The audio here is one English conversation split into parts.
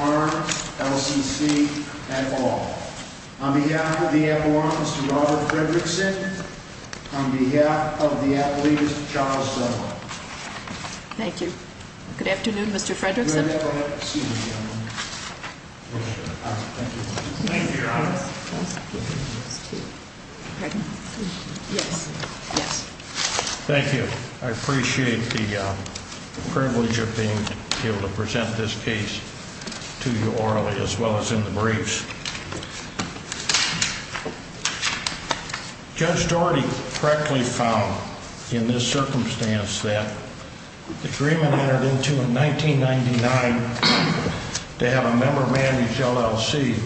Arm, LCC, et al. On behalf of the FORUM, Mr. Robert Fredrickson, on behalf of the athletes, Charles Sullivan. Thank you. Good afternoon, Mr. Fredrickson. Thank you, Your Honor. Thank you. I appreciate the privilege of being able to present this case to you orally as well as in the briefs. Judge Daugherty correctly found in this circumstance that the agreement entered into in 1999 to have a member-managed LLC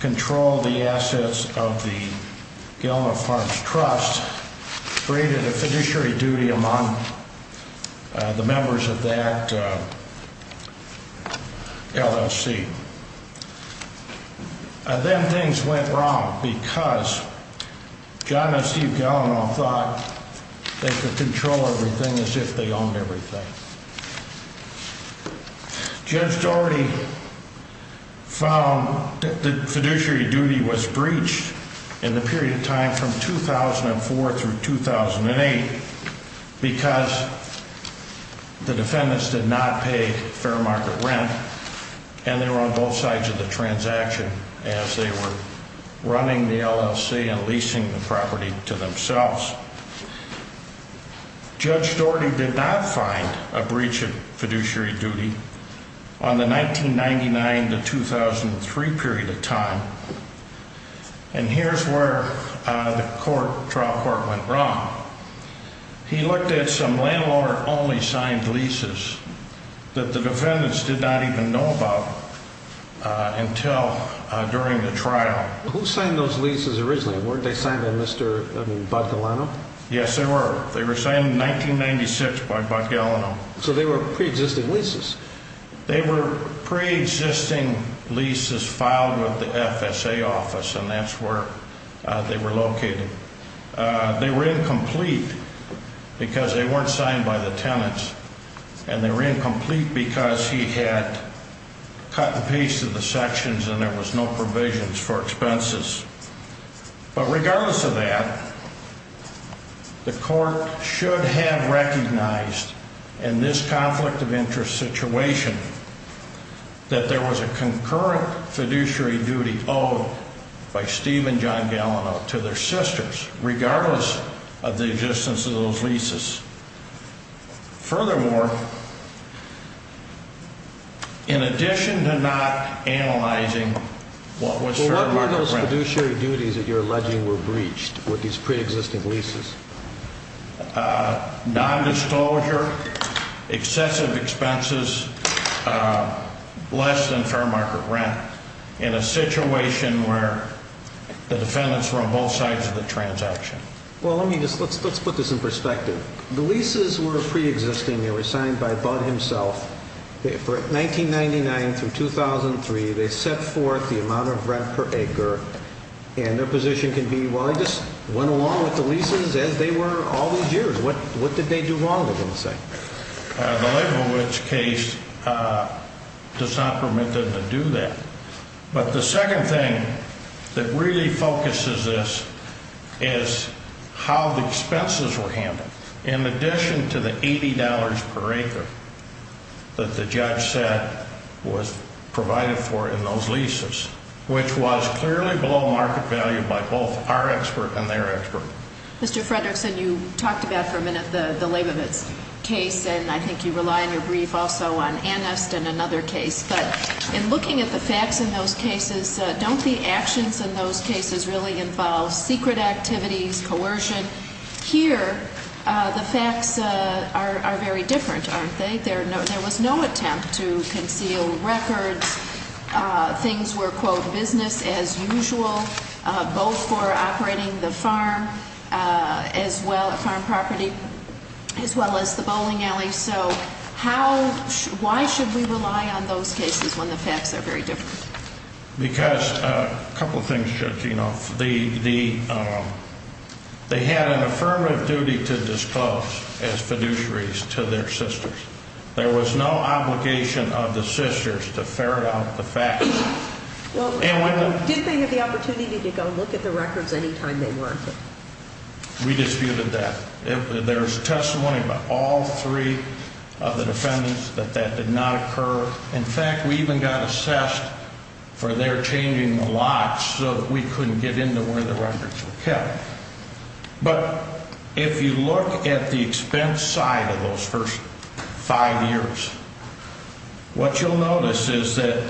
control the assets of the Gallano Farms Trust and created a fiduciary duty among the members of that LLC. Then things went wrong because John and Steve Gallano thought they could control everything as if they owned everything. Judge Daugherty found that the fiduciary duty was breached in the period of time from 2004 through 2008 because the defendants did not pay fair market rent and they were on both sides of the transaction as they were running the LLC and leasing the property to themselves. Judge Daugherty did not find a breach of fiduciary duty on the 1999 to 2003 period of time. And here's where the trial court went wrong. He looked at some landowner-only signed leases that the defendants did not even know about until during the trial. Who signed those leases originally? Weren't they signed by Mr. Gallano? Yes, they were. They were signed in 1996 by Bud Gallano. So they were pre-existing leases? They were pre-existing leases filed with the FSA office and that's where they were located. They were incomplete because they weren't signed by the tenants and they were incomplete because he had cut and pasted the sections and there was no provisions for expenses. But regardless of that, the court should have recognized in this conflict of interest situation that there was a concurrent fiduciary duty owed by Steve and John Gallano to their sisters, regardless of the existence of those leases. Furthermore, in addition to not analyzing what was fair market rent... Well, what were those fiduciary duties that you're alleging were breached with these pre-existing leases? Non-disclosure, excessive expenses, less than fair market rent in a situation where the defendants were on both sides of the transaction. Well, let's put this in perspective. The leases were pre-existing. They were signed by Bud himself. For 1999 through 2003, they set forth the amount of rent per acre and their position can be, well, he just went along with the leases as they were all these years. What did they do wrong, you're going to say? The Leibovitz case does not permit them to do that. But the second thing that really focuses this is how the expenses were handled. In addition to the $80 per acre that the judge said was provided for in those leases, which was clearly below market value by both our expert and their expert. Mr. Fredrickson, you talked about for a minute the Leibovitz case, and I think you rely on your brief also on Anist and another case. But in looking at the facts in those cases, don't the actions in those cases really involve secret activities, coercion? Here, the facts are very different, aren't they? There was no attempt to conceal records. Things were, quote, business as usual, both for operating the farm as well, farm property, as well as the bowling alley. So how, why should we rely on those cases when the facts are very different? Because a couple of things, Judge Enoff. They had an affirmative duty to disclose as fiduciaries to their sisters. There was no obligation of the sisters to ferret out the facts. Well, didn't they have the opportunity to go look at the records any time they wanted? We disputed that. There's testimony by all three of the defendants that that did not occur. In fact, we even got assessed for their changing the lots so that we couldn't get into where the records were kept. But if you look at the expense side of those first five years, what you'll notice is that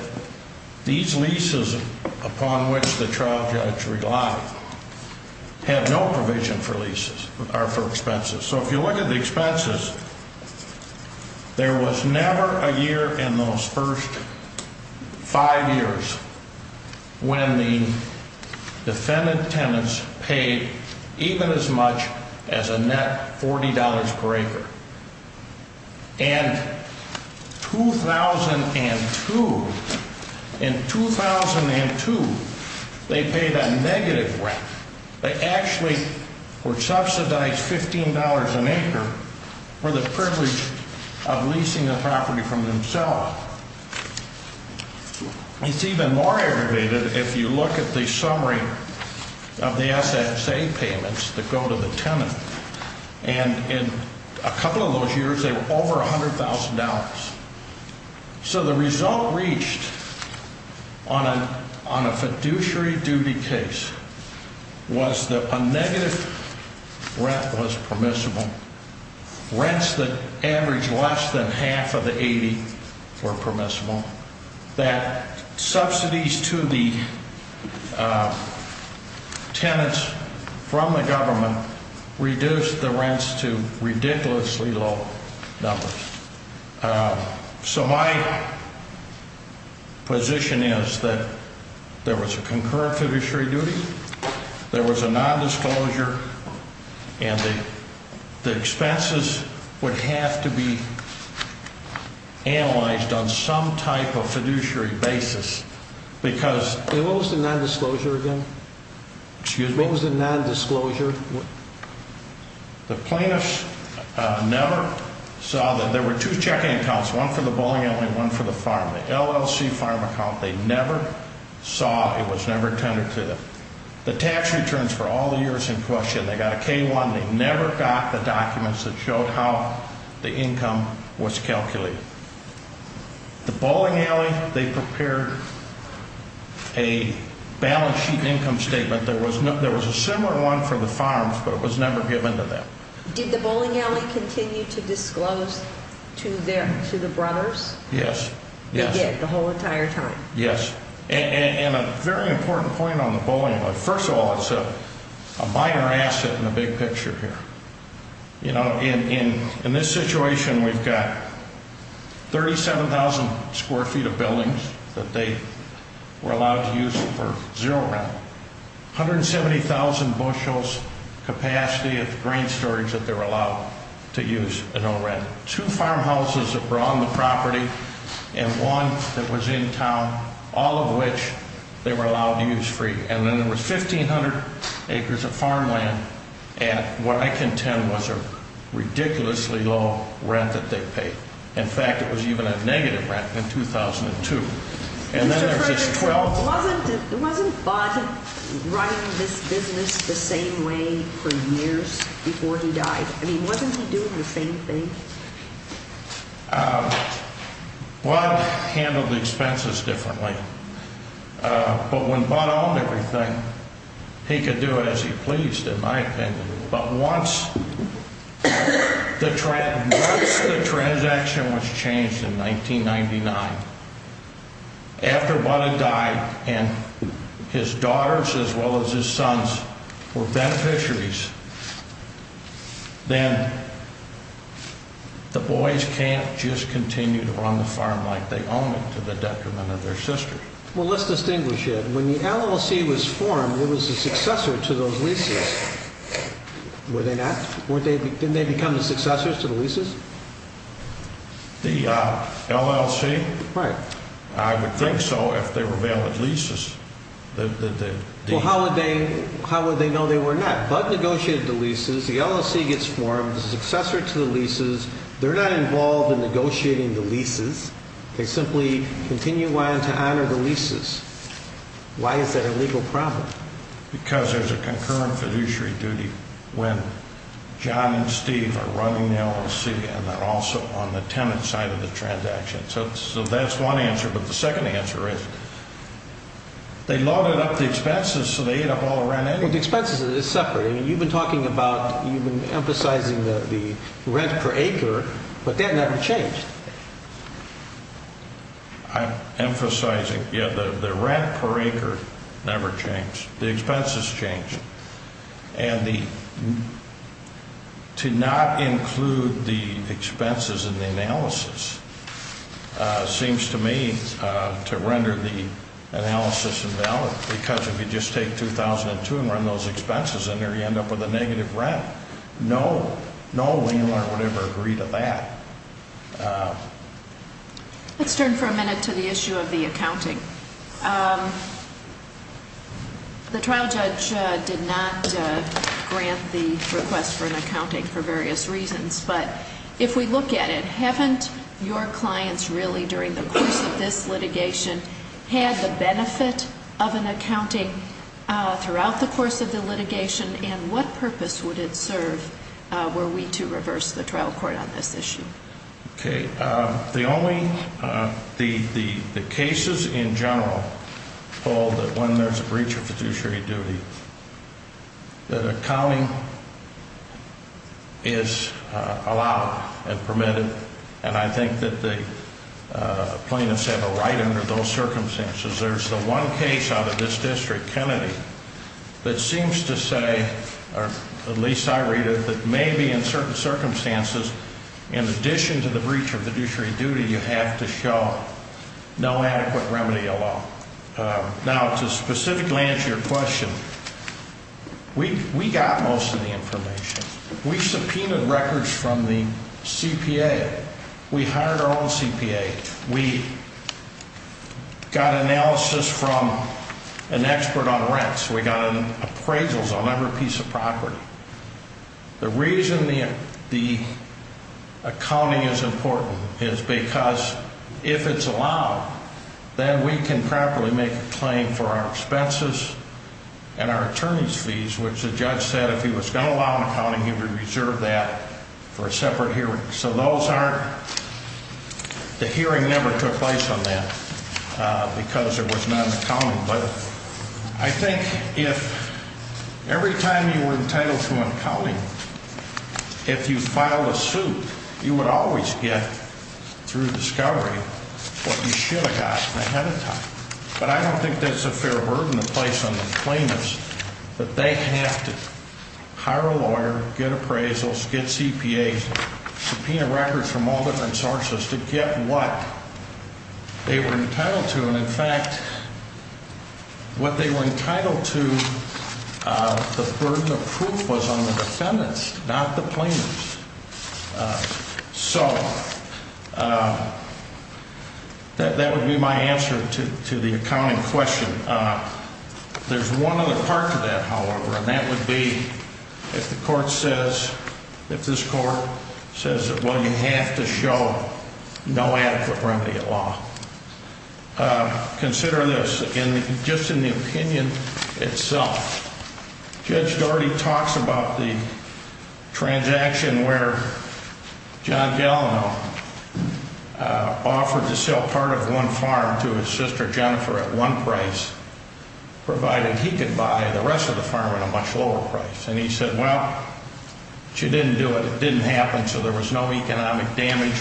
these leases upon which the trial judge relied have no provision for leases or for expenses. So if you look at the expenses, there was never a year in those first five years when the defendant tenants paid even as much as a net $40 per acre. And 2002, in 2002, they paid a negative rent. They actually were subsidized $15 an acre for the privilege of leasing the property from themselves. It's even more aggravated if you look at the summary of the SSA payments that go to the tenant. And in a couple of those years, they were over $100,000. So the result reached on a fiduciary duty case was that a negative rent was permissible, rents that averaged less than half of the 80 were permissible, that subsidies to the tenants from the government reduced the rents to ridiculously low numbers. So my position is that there was a concurrent fiduciary duty, there was a nondisclosure, and the expenses would have to be analyzed on some type of fiduciary basis. And what was the nondisclosure again? Excuse me? What was the nondisclosure? The plaintiffs never saw that there were two checking accounts, one for the bowling alley and one for the farm. The LLC farm account, they never saw, it was never attended to. The tax returns for all the years in question, they got a K-1, they never got the documents that showed how the income was calculated. The bowling alley, they prepared a balance sheet income statement. There was a similar one for the farms, but it was never given to them. Did the bowling alley continue to disclose to the brothers? Yes. They did the whole entire time? Yes. And a very important point on the bowling alley. First of all, it's a minor asset in the big picture here. You know, in this situation, we've got 37,000 square feet of buildings that they were allowed to use for zero rent. 170,000 bushels capacity of grain storage that they were allowed to use at no rent. They had two farmhouses that were on the property and one that was in town, all of which they were allowed to use free. And then there was 1,500 acres of farmland at what I contend was a ridiculously low rent that they paid. In fact, it was even a negative rent in 2002. Wasn't Bud running this business the same way for years before he died? I mean, wasn't he doing the same thing? Bud handled expenses differently. But when Bud owned everything, he could do it as he pleased, in my opinion. But once the transaction was changed in 1999, after Bud had died and his daughters as well as his sons were beneficiaries, then the boys can't just continue to run the farm like they own it to the detriment of their sisters. Well, let's distinguish it. When the LLC was formed, it was the successor to those leases. Were they not? Didn't they become the successors to the leases? The LLC? I would think so if they were valid leases. Well, how would they know they were not? Bud negotiated the leases. The LLC gets formed, the successor to the leases. They're not involved in negotiating the leases. They simply continue on to honor the leases. Why is that a legal problem? Because there's a concurrent fiduciary duty when John and Steve are running the LLC and they're also on the tenant side of the transaction. So that's one answer. But the second answer is they loaded up the expenses so they ate up all the rent anyway. Well, the expenses are separate. You've been talking about, you've been emphasizing the rent per acre, but that never changed. I'm emphasizing, yeah, the rent per acre never changed. The expenses changed. And to not include the expenses in the analysis seems to me to render the analysis invalid. Because if you just take 2002 and run those expenses in there, you end up with a negative rent. No landlord would ever agree to that. Let's turn for a minute to the issue of the accounting. The trial judge did not grant the request for an accounting for various reasons. But if we look at it, haven't your clients really during the course of this litigation had the benefit of an accounting throughout the course of the litigation? And what purpose would it serve were we to reverse the trial court on this issue? The only, the cases in general hold that when there's a breach of fiduciary duty, that accounting is allowed and permitted. And I think that the plaintiffs have a right under those circumstances. There's the one case out of this district, Kennedy, that seems to say, or at least I read it, that maybe in certain circumstances, in addition to the breach of fiduciary duty, you have to show no adequate remedy alone. Now, to specifically answer your question, we got most of the information. We subpoenaed records from the CPA. We hired our own CPA. We got analysis from an expert on rents. We got appraisals on every piece of property. The reason the accounting is important is because if it's allowed, then we can properly make a claim for our expenses and our attorney's fees, which the judge said if he was going to allow an accounting, he would reserve that for a separate hearing. So those aren't, the hearing never took place on that because it was not an accounting. But I think if every time you were entitled to an accounting, if you filed a suit, you would always get through discovery what you should have gotten ahead of time. But I don't think that's a fair burden to place on the claimants that they have to hire a lawyer, get appraisals, get CPAs, subpoena records from all different sources to get what they were entitled to. And, in fact, what they were entitled to, the burden of proof was on the defendants, not the claimants. So that would be my answer to the accounting question. There's one other part to that, however, and that would be if the court says, if this court says, well, you have to show no adequate remedy at law. Consider this, just in the opinion itself. Judge Daugherty talks about the transaction where John Gallinow offered to sell part of one farm to his sister Jennifer at one price, provided he could buy the rest of the farm at a much lower price. And he said, well, she didn't do it, it didn't happen, so there was no economic damage,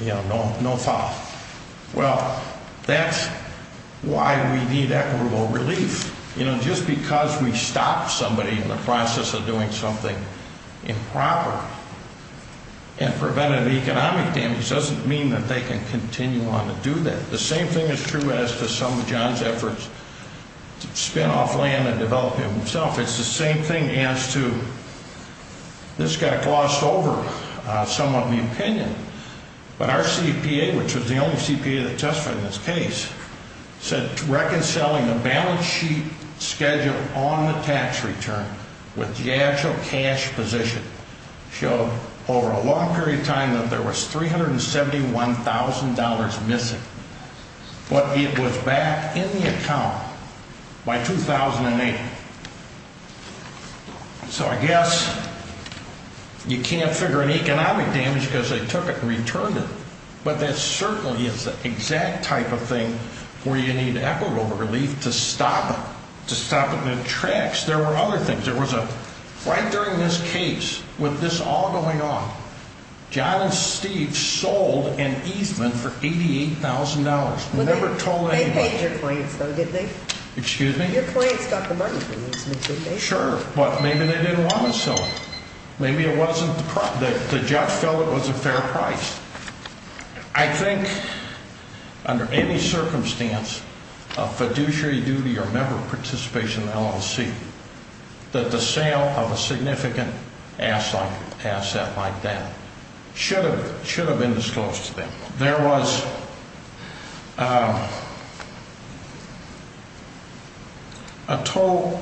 no foul. Well, that's why we need equitable relief. You know, just because we stopped somebody in the process of doing something improper and prevented economic damage doesn't mean that they can continue on to do that. The same thing is true as to some of John's efforts to spin off land and develop it himself. It's the same thing as to this got glossed over somewhat in the opinion, but our CPA, which was the only CPA that testified in this case, said reconciling the balance sheet schedule on the tax return with the actual cash position showed over a long period of time that there was $371,000 missing. But it was back in the account by 2008. So I guess you can't figure an economic damage because they took it and returned it. But that certainly is the exact type of thing where you need equitable relief to stop it, to stop it in the tracks. There was a, right during this case, with this all going on, John and Steve sold an easement for $88,000. Never told anybody. They paid your clients though, didn't they? Excuse me? Your clients got the money for the easement, didn't they? Sure, but maybe they didn't want to sell it. Maybe it wasn't, the judge felt it was a fair price. I think under any circumstance of fiduciary duty or member participation in LLC that the sale of a significant asset like that should have been disclosed to them. There was a total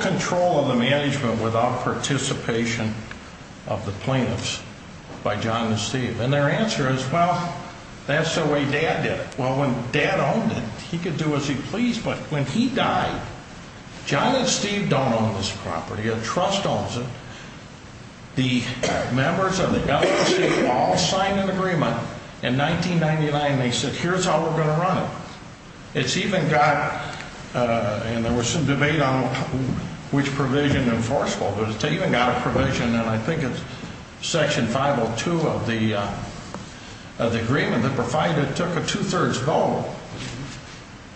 control of the management without participation of the plaintiffs by John and Steve. And their answer is, well, that's the way Dad did it. Well, when Dad owned it, he could do as he pleased. But when he died, John and Steve don't own this property. A trust owns it. The members of the LLC all signed an agreement in 1999. They said, here's how we're going to run it. It's even got, and there was some debate on which provision enforceable. But it's even got a provision, and I think it's Section 502 of the agreement that provided it took a two-thirds vote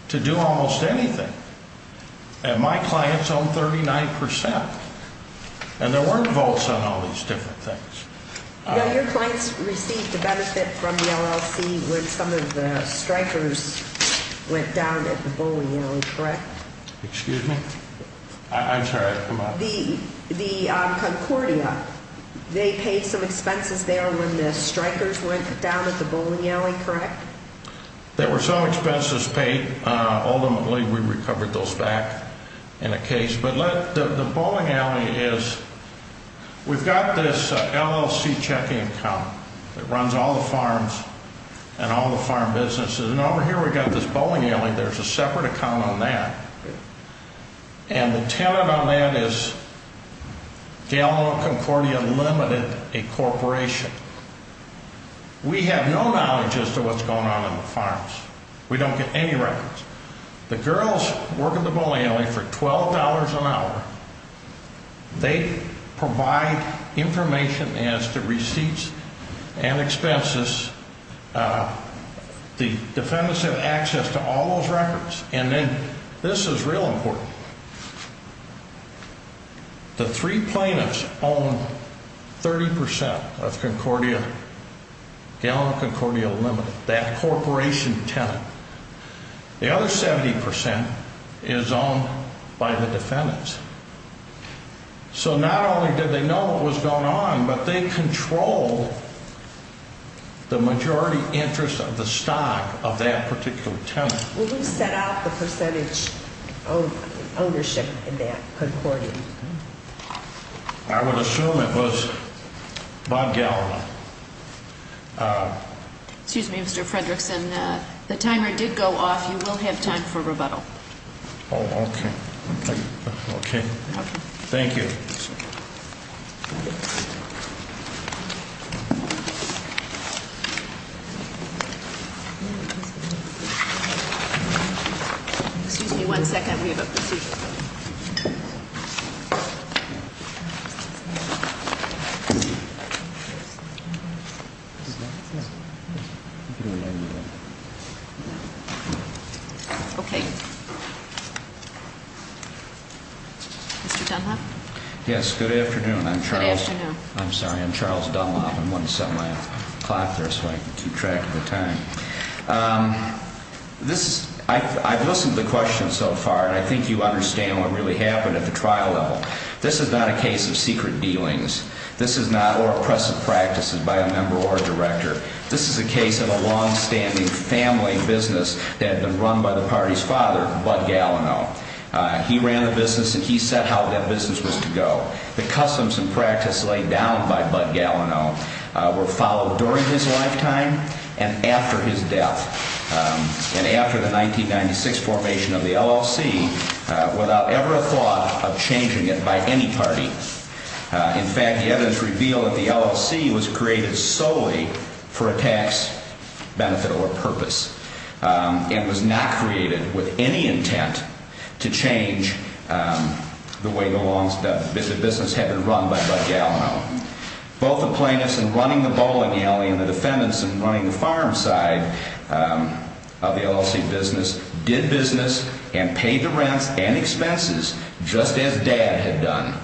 to do almost anything. And my clients own 39%. And there weren't votes on all these different things. Your clients received the benefit from the LLC when some of the strikers went down at the bowling alley, correct? Excuse me? I'm sorry. The Concordia, they paid some expenses there when the strikers went down at the bowling alley, correct? There were some expenses paid. Ultimately, we recovered those back in a case. But the bowling alley is, we've got this LLC checking account that runs all the farms and all the farm businesses. And over here we've got this bowling alley. There's a separate account on that. And the tenant on that is Gallimore Concordia Limited, a corporation. We have no knowledge as to what's going on in the farms. We don't get any records. The girls work at the bowling alley for $12 an hour. They provide information as to receipts and expenses. The defendants have access to all those records. And then this is real important. The three plaintiffs own 30% of Gallimore Concordia Limited, that corporation tenant. The other 70% is owned by the defendants. So not only did they know what was going on, but they controlled the majority interest of the stock of that particular tenant. Who set out the percentage of ownership in that Concordia? I would assume it was Bob Gallimore. Excuse me, Mr. Fredrickson. The timer did go off. You will have time for rebuttal. Oh, okay. Okay. Thank you. Excuse me one second. We have a procedure. Okay. Mr. Dunlop? Yes, good afternoon. Good afternoon. I'm sorry, I'm Charles Dunlop. I'm going to set my clock there so I can keep track of the time. I've listened to the questions so far, and I think you understand what really happened at the trial level. This is not a case of secret dealings. This is not or oppressive practices by a member or a director. This is a case of a longstanding family business that had been run by the party's father, Bud Gallimore. He ran the business, and he set how that business was to go. The customs and practice laid down by Bud Gallimore were followed during his lifetime and after his death, and after the 1996 formation of the LLC without ever a thought of changing it by any party. In fact, the evidence revealed that the LLC was created solely for a tax benefit or purpose and was not created with any intent to change the way the business had been run by Bud Gallimore. Both the plaintiffs in running the bowling alley and the defendants in running the farm side of the LLC business did business and paid the rents and expenses just as Dad had done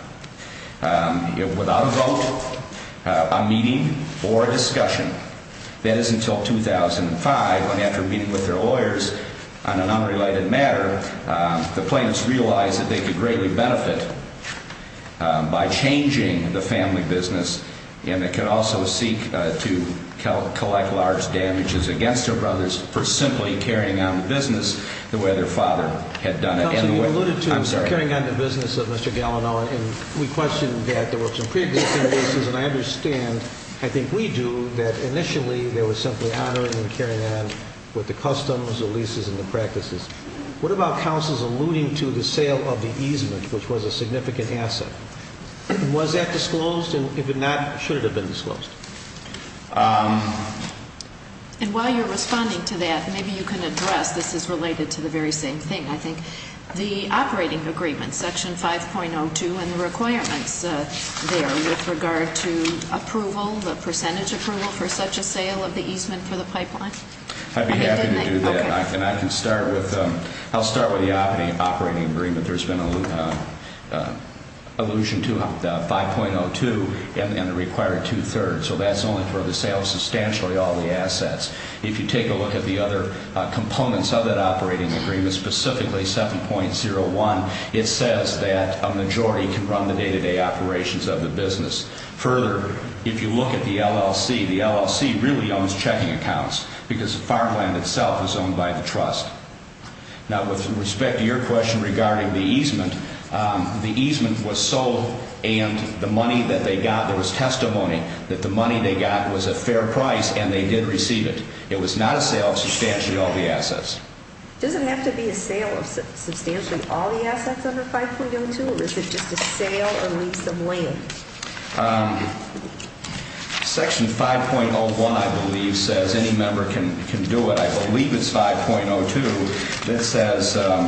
without a vote, a meeting, or a discussion. That is until 2005 when after meeting with their lawyers on an unrelated matter, the plaintiffs realized that they could greatly benefit by changing the family business, and they could also seek to collect large damages against their brothers for simply carrying on the business the way their father had done it. Counsel, you alluded to carrying on the business of Mr. Gallimore, and we questioned that. There were some preexisting reasons, and I understand, I think we do, that initially they were simply honoring and carrying on with the customs, the leases, and the practices. What about counsel's alluding to the sale of the easement, which was a significant asset? Was that disclosed, and if not, should it have been disclosed? And while you're responding to that, maybe you can address, this is related to the very same thing, I think, the operating agreement, section 5.02, and the requirements there with regard to approval, the percentage approval for such a sale of the easement for the pipeline. I'd be happy to do that, and I can start with, I'll start with the operating agreement. There's been allusion to 5.02 and the required two-thirds, so that's only for the sale of substantially all the assets. If you take a look at the other components of that operating agreement, specifically 7.01, it says that a majority can run the day-to-day operations of the business. Further, if you look at the LLC, the LLC really owns checking accounts because the farmland itself is owned by the trust. Now, with respect to your question regarding the easement, the easement was sold, and the money that they got, there was testimony that the money they got was a fair price, and they did receive it. It was not a sale of substantially all the assets. Does it have to be a sale of substantially all the assets under 5.02, or is it just a sale or leaves them lame? Section 5.01, I believe, says any member can do it. I believe it's 5.02 that says, let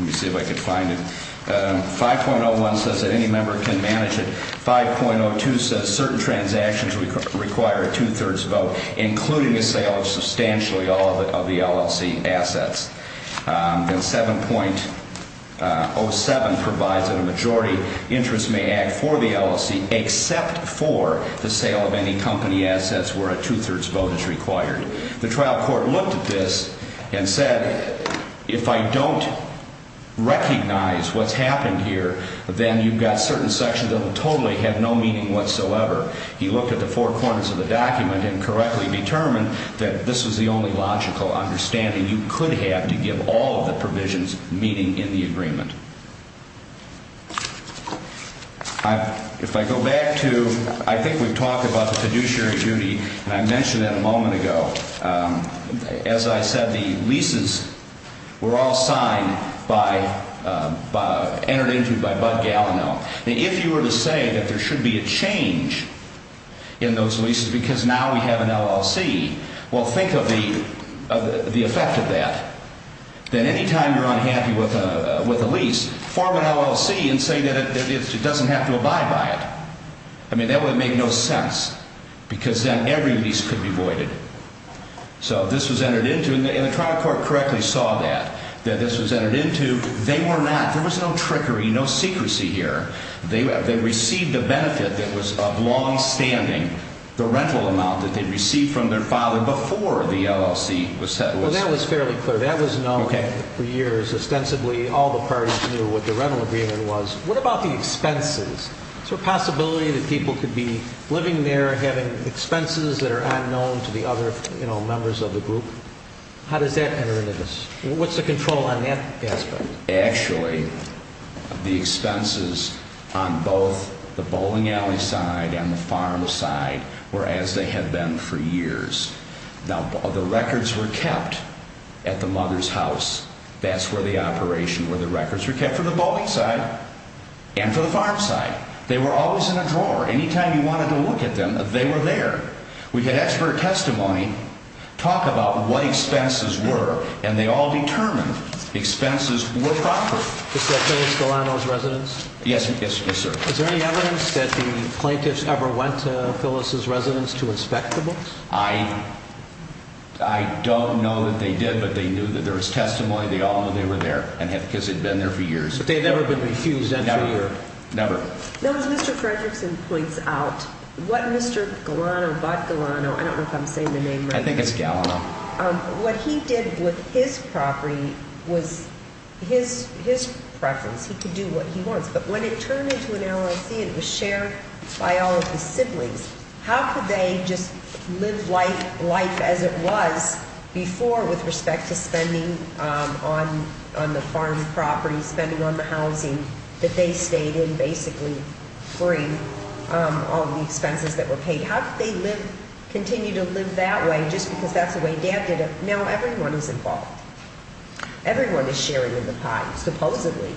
me see if I can find it. 5.01 says that any member can manage it. 5.02 says certain transactions require a two-thirds vote, including a sale of substantially all of the LLC assets. And 7.07 provides that a majority interest may act for the LLC except for the sale of any company assets where a two-thirds vote is required. The trial court looked at this and said, if I don't recognize what's happened here, then you've got certain sections that will totally have no meaning whatsoever. He looked at the four corners of the document and correctly determined that this was the only logical understanding you could have to give all of the provisions meeting in the agreement. If I go back to, I think we've talked about the fiduciary duty, and I mentioned that a moment ago. As I said, the leases were all signed by, entered into by Bud Gallinel. Now, if you were to say that there should be a change in those leases because now we have an LLC, well, think of the effect of that. Then any time you're unhappy with a lease, form an LLC and say that it doesn't have to abide by it. I mean, that would make no sense because then every lease could be voided. So this was entered into, and the trial court correctly saw that, that this was entered into. They were not, there was no trickery, no secrecy here. They received a benefit that was of longstanding, the rental amount that they received from their father before the LLC was set. Well, that was fairly clear. That was known for years. Ostensibly, all the parties knew what the rental agreement was. What about the expenses? Is there a possibility that people could be living there, having expenses that are unknown to the other members of the group? How does that enter into this? What's the control on that aspect? Actually, the expenses on both the bowling alley side and the farm side were as they had been for years. Now, the records were kept at the mother's house. That's where the operation, where the records were kept for the bowling side and for the farm side. They were always in a drawer. Any time you wanted to look at them, they were there. We had expert testimony talk about what expenses were, and they all determined expenses were proper. Is that Phyllis Galano's residence? Yes, sir. Is there any evidence that the plaintiffs ever went to Phyllis' residence to inspect the books? I don't know that they did, but they knew that there was testimony. They all knew they were there because they'd been there for years. But they'd never been refused entry? Never. No, as Mr. Fredrickson points out, what Mr. Galano, Bob Galano, I don't know if I'm saying the name right. I think it's Galano. What he did with his property was his preference. He could do what he wants. But when it turned into an LLC, it was shared by all of his siblings. How could they just live life as it was before with respect to spending on the farm property, spending on the housing, that they stayed in basically free of the expenses that were paid? How could they continue to live that way just because that's the way Dad did it? Now everyone is involved. Everyone is sharing in the pot, supposedly.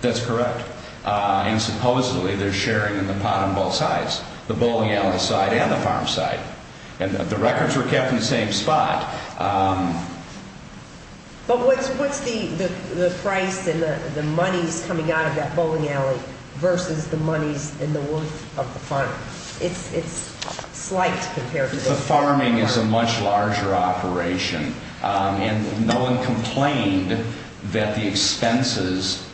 That's correct. And supposedly they're sharing in the pot on both sides. The bowling alley side and the farm side. And the records were kept in the same spot. But what's the price and the monies coming out of that bowling alley versus the monies and the worth of the farm? It's slight compared to this. The farming is a much larger operation. And no one complained that the expenses,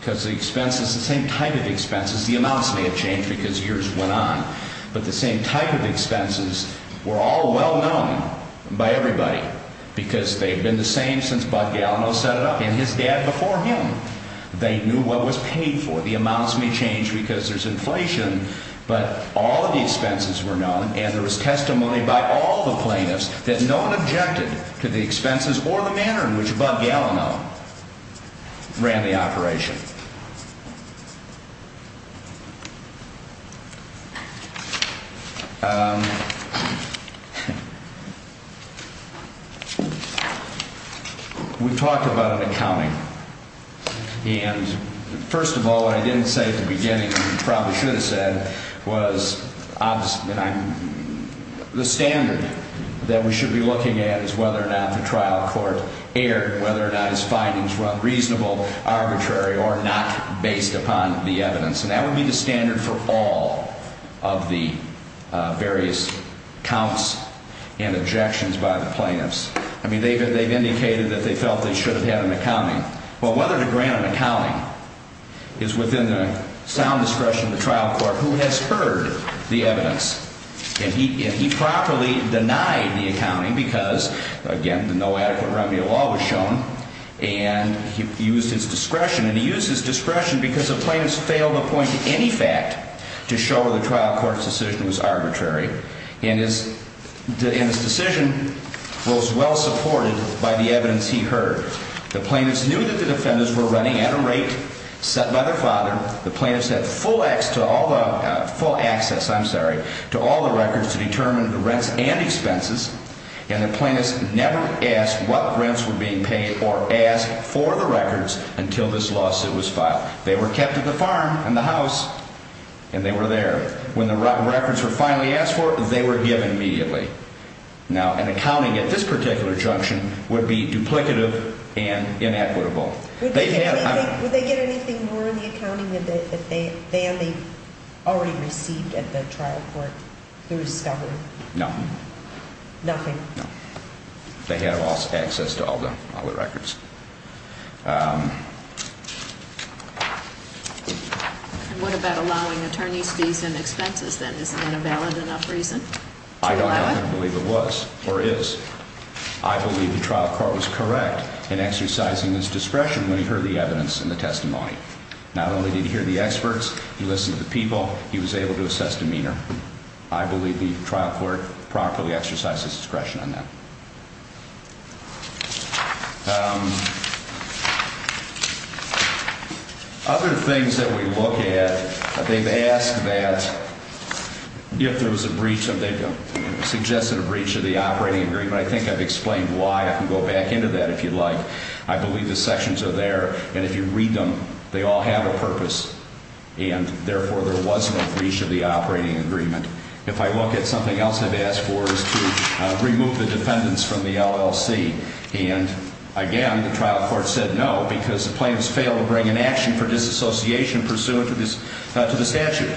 because the expenses, the same type of expenses, the amounts may have changed because years went on. But the same type of expenses were all well-known by everybody because they had been the same since Bud Gallinow set it up and his dad before him. They knew what was paid for. The amounts may change because there's inflation, but all of the expenses were known and there was testimony by all the plaintiffs that no one objected to the expenses or the manner in which Bud Gallinow ran the operation. We've talked about an accounting. And first of all, what I didn't say at the beginning and probably should have said was the standard that we should be looking at is whether or not the trial court erred, whether or not his findings were reasonable, arbitrary, or not based upon the evidence. And that would be the standard for all of the various counts and objections by the plaintiffs. I mean, they've indicated that they felt they should have had an accounting. Well, whether to grant an accounting is within the sound discretion of the trial court who has heard the evidence. And he properly denied the accounting because, again, no adequate remedy of law was shown. And he used his discretion. And he used his discretion because the plaintiffs failed to point to any fact to show the trial court's decision was arbitrary. And his decision was well supported by the evidence he heard. The plaintiffs knew that the defendants were running at a rate set by their father. The plaintiffs had full access to all the records to determine the rents and expenses. And the plaintiffs never asked what rents were being paid or asked for the records until this lawsuit was filed. They were kept at the farm and the house, and they were there. When the records were finally asked for, they were given immediately. Now, an accounting at this particular junction would be duplicative and inequitable. Would they get anything more in the accounting than they already received at the trial court through discovery? No. Nothing? No. They had lost access to all the records. And what about allowing attorneys fees and expenses, then? Is that a valid enough reason? I don't believe it was or is. I believe the trial court was correct in exercising his discretion when he heard the evidence and the testimony. Not only did he hear the experts, he listened to the people, he was able to assess demeanor. I believe the trial court properly exercised his discretion on that. Other things that we look at, they've asked that if there was a breach, and they've suggested a breach of the operating agreement. I think I've explained why. I can go back into that if you'd like. I believe the sections are there, and if you read them, they all have a purpose. And, therefore, there was no breach of the operating agreement. If I look at something else they've asked for is to remove the defendants from the LLC. And, again, the trial court said no because the plaintiffs failed to bring an action for disassociation pursuant to the statute.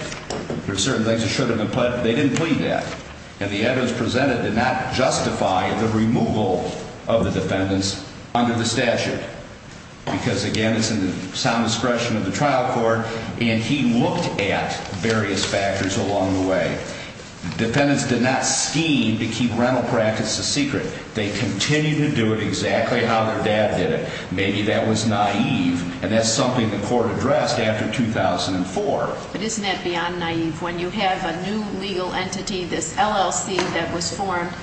There are certain things that should have been put, but they didn't plead that. And the evidence presented did not justify the removal of the defendants under the statute. Because, again, it's in the sound discretion of the trial court, and he looked at various factors along the way. Defendants did not scheme to keep rental practice a secret. They continued to do it exactly how their dad did it. Maybe that was naive, and that's something the court addressed after 2004. But isn't that beyond naive? When you have a new legal entity, this LLC that was formed,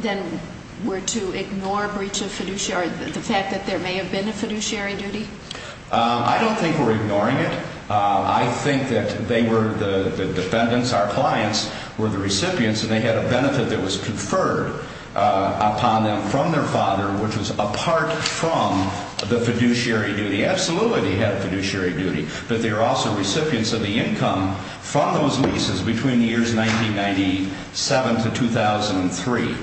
then were to ignore breach of fiduciary, the fact that there may have been a fiduciary duty? I don't think we're ignoring it. I think that they were the defendants. Our clients were the recipients, and they had a benefit that was conferred upon them from their father, which was apart from the fiduciary duty. They absolutely had a fiduciary duty, but they were also recipients of the income from those leases between the years 1997 to 2003.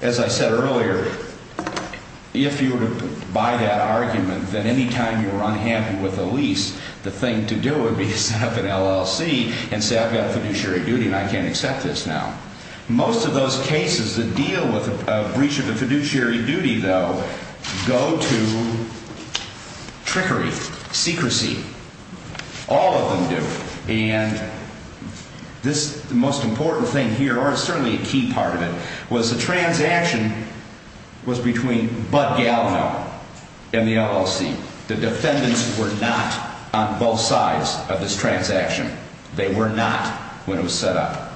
As I said earlier, if you were to buy that argument, then any time you were unhappy with a lease, the thing to do would be to set up an LLC and say, I've got a fiduciary duty and I can't accept this now. Most of those cases that deal with a breach of a fiduciary duty, though, go to trickery, secrecy. All of them do. And this most important thing here, or certainly a key part of it, was the transaction was between Bud Galvin and the LLC. The defendants were not on both sides of this transaction. They were not when it was set up.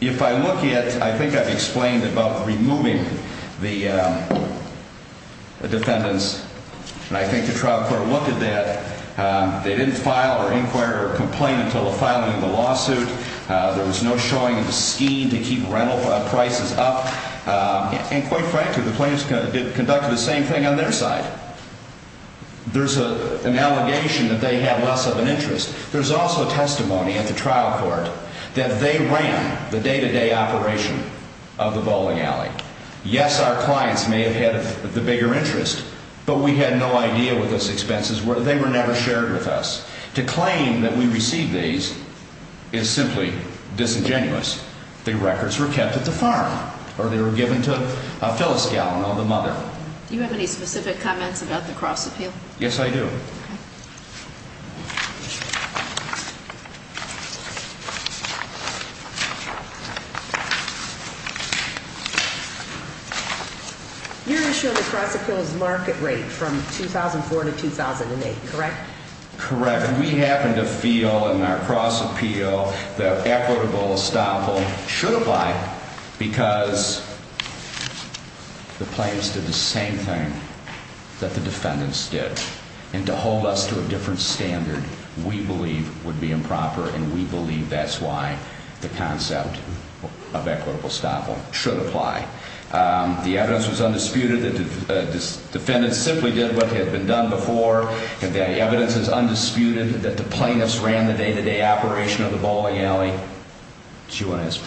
If I look at, I think I've explained about removing the defendants, and I think the trial court looked at that. They didn't file or inquire or complain until the filing of the lawsuit. There was no showing of a scheme to keep rental prices up. And quite frankly, the plaintiffs conducted the same thing on their side. There's an allegation that they had less of an interest. There's also testimony at the trial court that they ran the day-to-day operation of the bowling alley. Yes, our clients may have had the bigger interest, but we had no idea what those expenses were. They were never shared with us. To claim that we received these is simply disingenuous. The records were kept at the farm, or they were given to Phyllis Gallin on the mother. Do you have any specific comments about the cross-appeal? Yes, I do. You're going to show the cross-appeal's market rate from 2004 to 2008, correct? Correct. We happen to feel in our cross-appeal that equitable estoppel should apply because the plaintiffs did the same thing that the defendants did. And to hold us to a different standard, we believe, would be improper, and we believe that's why the concept of equitable estoppel should apply. The evidence was undisputed. The defendants simply did what had been done before, and the evidence is undisputed that the plaintiffs ran the day-to-day operation of the bowling alley. Do you want to ask?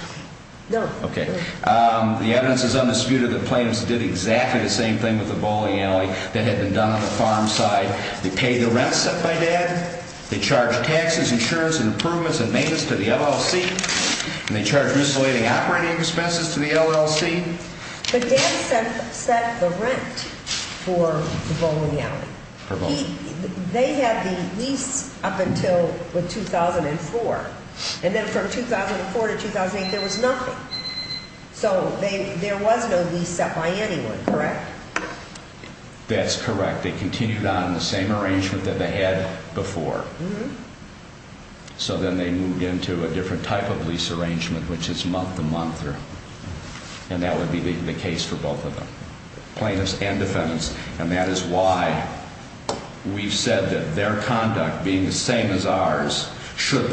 No. Okay. The evidence is undisputed that the plaintiffs did exactly the same thing with the bowling alley that had been done on the farm side. They paid the rent set by Dad. They charged taxes, insurance, and improvements and maintenance to the LLC. And they charged miscellaneous operating expenses to the LLC. But Dad set the rent for the bowling alley. They had the lease up until 2004, and then from 2004 to 2008, there was nothing. So there was no lease set by anyone, correct? That's correct. They continued on the same arrangement that they had before. So then they moved into a different type of lease arrangement, which is month-to-month. And that would be the case for both of them, plaintiffs and defendants. And that is why we've said that their conduct, being the same as ours, should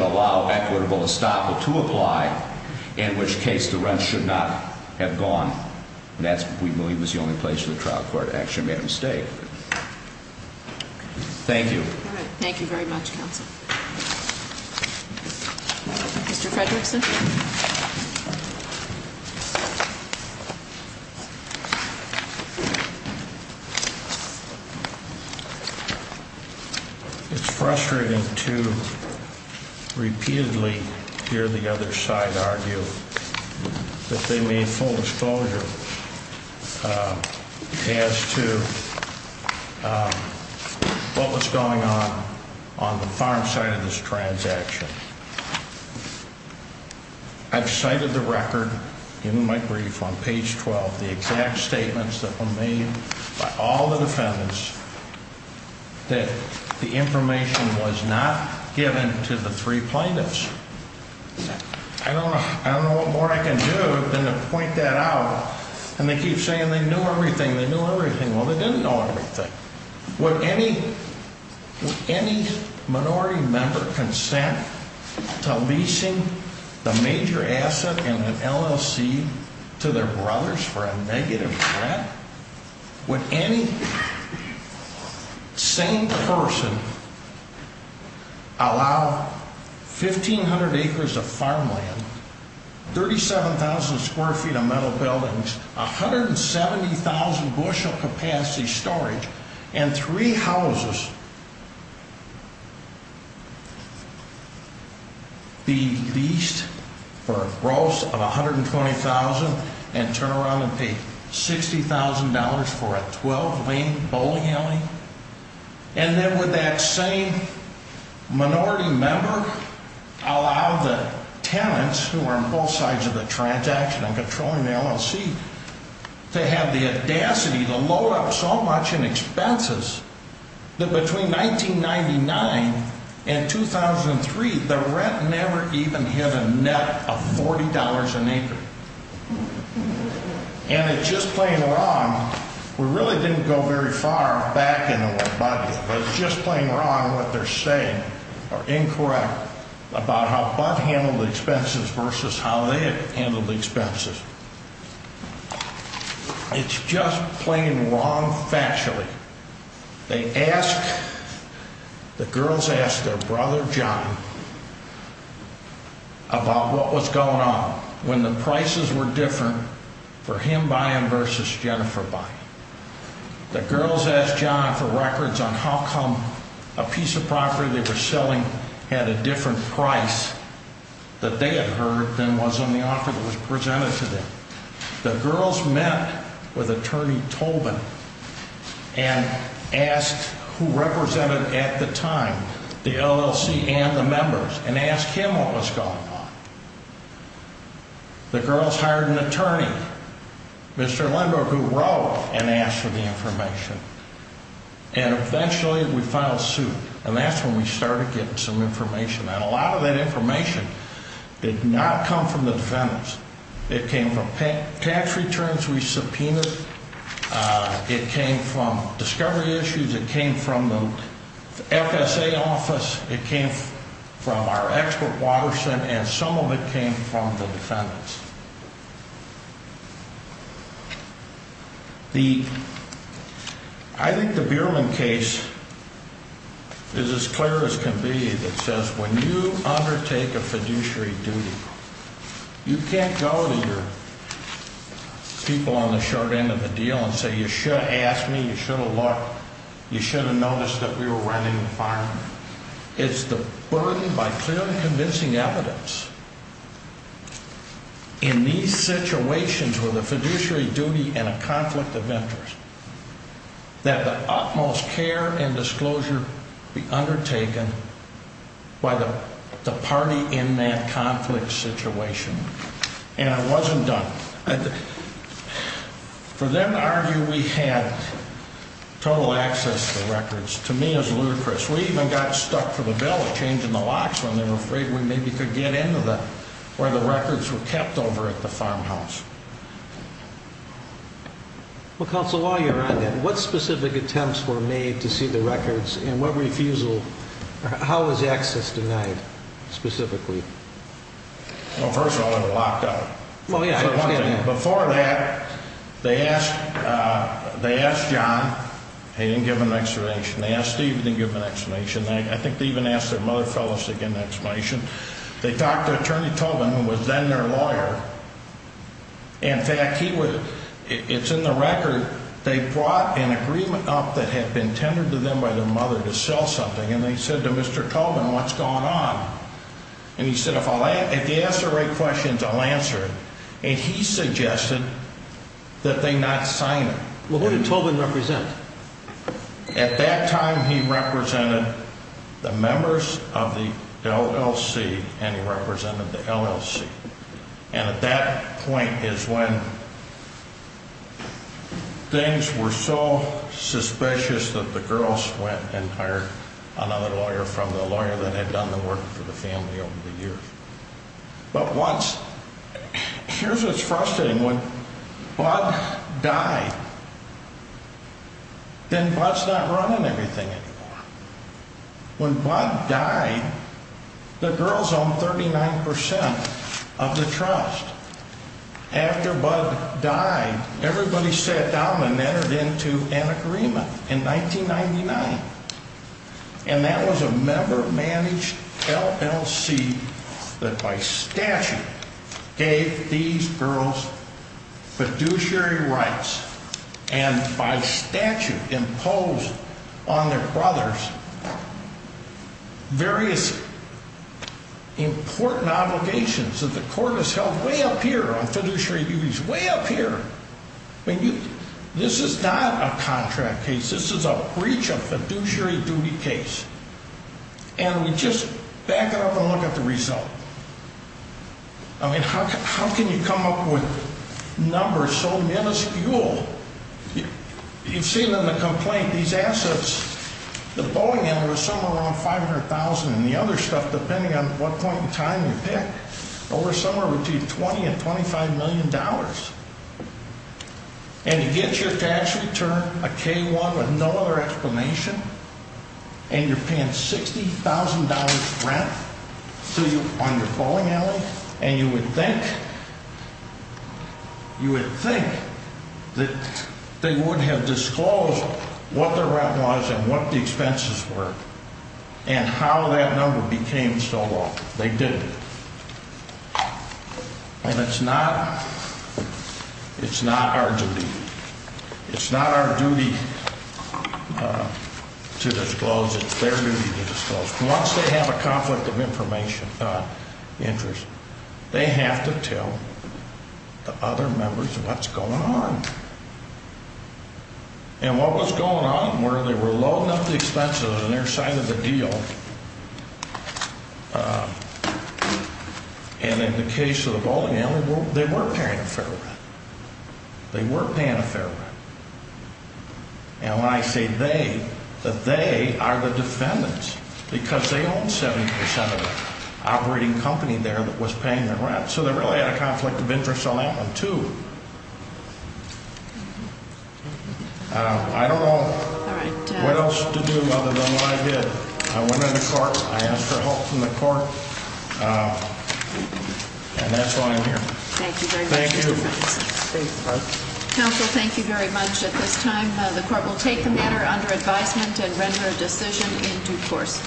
allow equitable estoppel to apply, in which case the rent should not have gone. And that, we believe, was the only place where the trial court actually made a mistake. Thank you. Thank you very much, counsel. Mr. Fredrickson? It's frustrating to repeatedly hear the other side argue that they made full disclosure as to what was going on on the farm side of this transaction. I've cited the record in my brief on page 12, the exact statements that were made by all the defendants, that the information was not given to the three plaintiffs. I don't know what more I can do than to point that out. And they keep saying they knew everything. They knew everything. Well, they didn't know everything. Would any minority member consent to leasing the major asset in an LLC to their brothers for a negative rent? Would any sane person allow 1,500 acres of farmland, 37,000 square feet of metal buildings, 170,000 bushel capacity storage, and three houses be leased for a gross of $120,000 and turn around and pay $60,000 for a 12-lane bowling alley? And then would that same minority member allow the tenants, who were on both sides of the transaction and controlling the LLC, to have the audacity to load up so much in expenses that between 1999 and 2003, the rent never even hit a net of $40 an acre? And it's just plain wrong. We really didn't go very far back into what Bud did, but it's just plain wrong what they're saying, or incorrect, about how Bud handled the expenses versus how they handled the expenses. It's just plain wrong factually. The girls asked their brother, John, about what was going on when the prices were different for him buying versus Jennifer buying. The girls asked John for records on how come a piece of property they were selling had a different price that they had heard than was on the offer that was presented to them. The girls met with Attorney Tobin and asked who represented, at the time, the LLC and the members, and asked him what was going on. The girls hired an attorney, Mr. Lindbergh, who wrote, and asked for the information. And eventually, we filed suit, and that's when we started getting some information. And a lot of that information did not come from the defendants. It came from tax returns we subpoenaed. It came from discovery issues. It came from the FSA office. It came from our expert water center, and some of it came from the defendants. I think the Bierman case is as clear as can be that says when you undertake a fiduciary duty, you can't go to your people on the short end of the deal and say, you should have asked me, you should have looked, you should have noticed that we were running a fireman. It's the burden by clearly convincing evidence. In these situations with a fiduciary duty and a conflict of interest, that the utmost care and disclosure be undertaken by the party in that conflict situation. And it wasn't done. For them to argue we had total access to the records, to me, is ludicrous. We even got stuck for the bill, changing the locks when they were afraid we maybe could get into the, where the records were kept over at the farmhouse. Well, Counsel Lawyer, on that, what specific attempts were made to see the records, and what refusal, how was access denied, specifically? Well, first of all, they were locked up. Well, yeah, I understand that. And before that, they asked John, they didn't give him an explanation. They asked Steve, they didn't give him an explanation. I think they even asked their mother, Phyllis, to give an explanation. They talked to Attorney Tobin, who was then their lawyer. In fact, he was, it's in the record, they brought an agreement up that had been tendered to them by their mother to sell something. And they said to Mr. Tobin, what's going on? And he said, if I'll, if he asks the right questions, I'll answer it. And he suggested that they not sign it. Well, who did Tobin represent? At that time, he represented the members of the LLC, and he represented the LLC. And at that point is when things were so suspicious that the girls went and hired another lawyer from the lawyer that had done the work for the family over the years. But once, here's what's frustrating, when Bud died, then Bud's not running everything anymore. When Bud died, the girls owned 39% of the trust. After Bud died, everybody sat down and entered into an agreement in 1999. And that was a member-managed LLC that by statute gave these girls fiduciary rights. And by statute imposed on their brothers various important obligations that the court has held way up here on fiduciary duties, way up here. I mean, this is not a contract case. This is a breach of fiduciary duty case. And we just back it up and look at the result. I mean, how can you come up with numbers so minuscule? You've seen in the complaint, these assets, the Boeing and there was somewhere around $500,000 and the other stuff, depending on what point in time you pick, over somewhere between $20 and $25 million. And you get your tax return, a K-1 with no other explanation, and you're paying $60,000 rent on your Boeing Alley, and you would think that they would have disclosed what the rent was and what the expenses were and how that number became so low. They didn't. And it's not our duty. It's not our duty to disclose. It's their duty to disclose. Once they have a conflict of interest, they have to tell the other members what's going on. And what was going on were they were loading up the expenses on their side of the deal, and in the case of the Boeing Alley, they were paying a fair rent. They were paying a fair rent. And when I say they, the they are the defendants because they own 70% of the operating company there that was paying their rent. So they really had a conflict of interest on that one, too. I don't know what else to do other than what I did. I went into court. I asked for help from the court. And that's why I'm here. Thank you very much. Thank you. Counsel, thank you very much. At this time, the court will take the matter under advisement and render a decision in due course.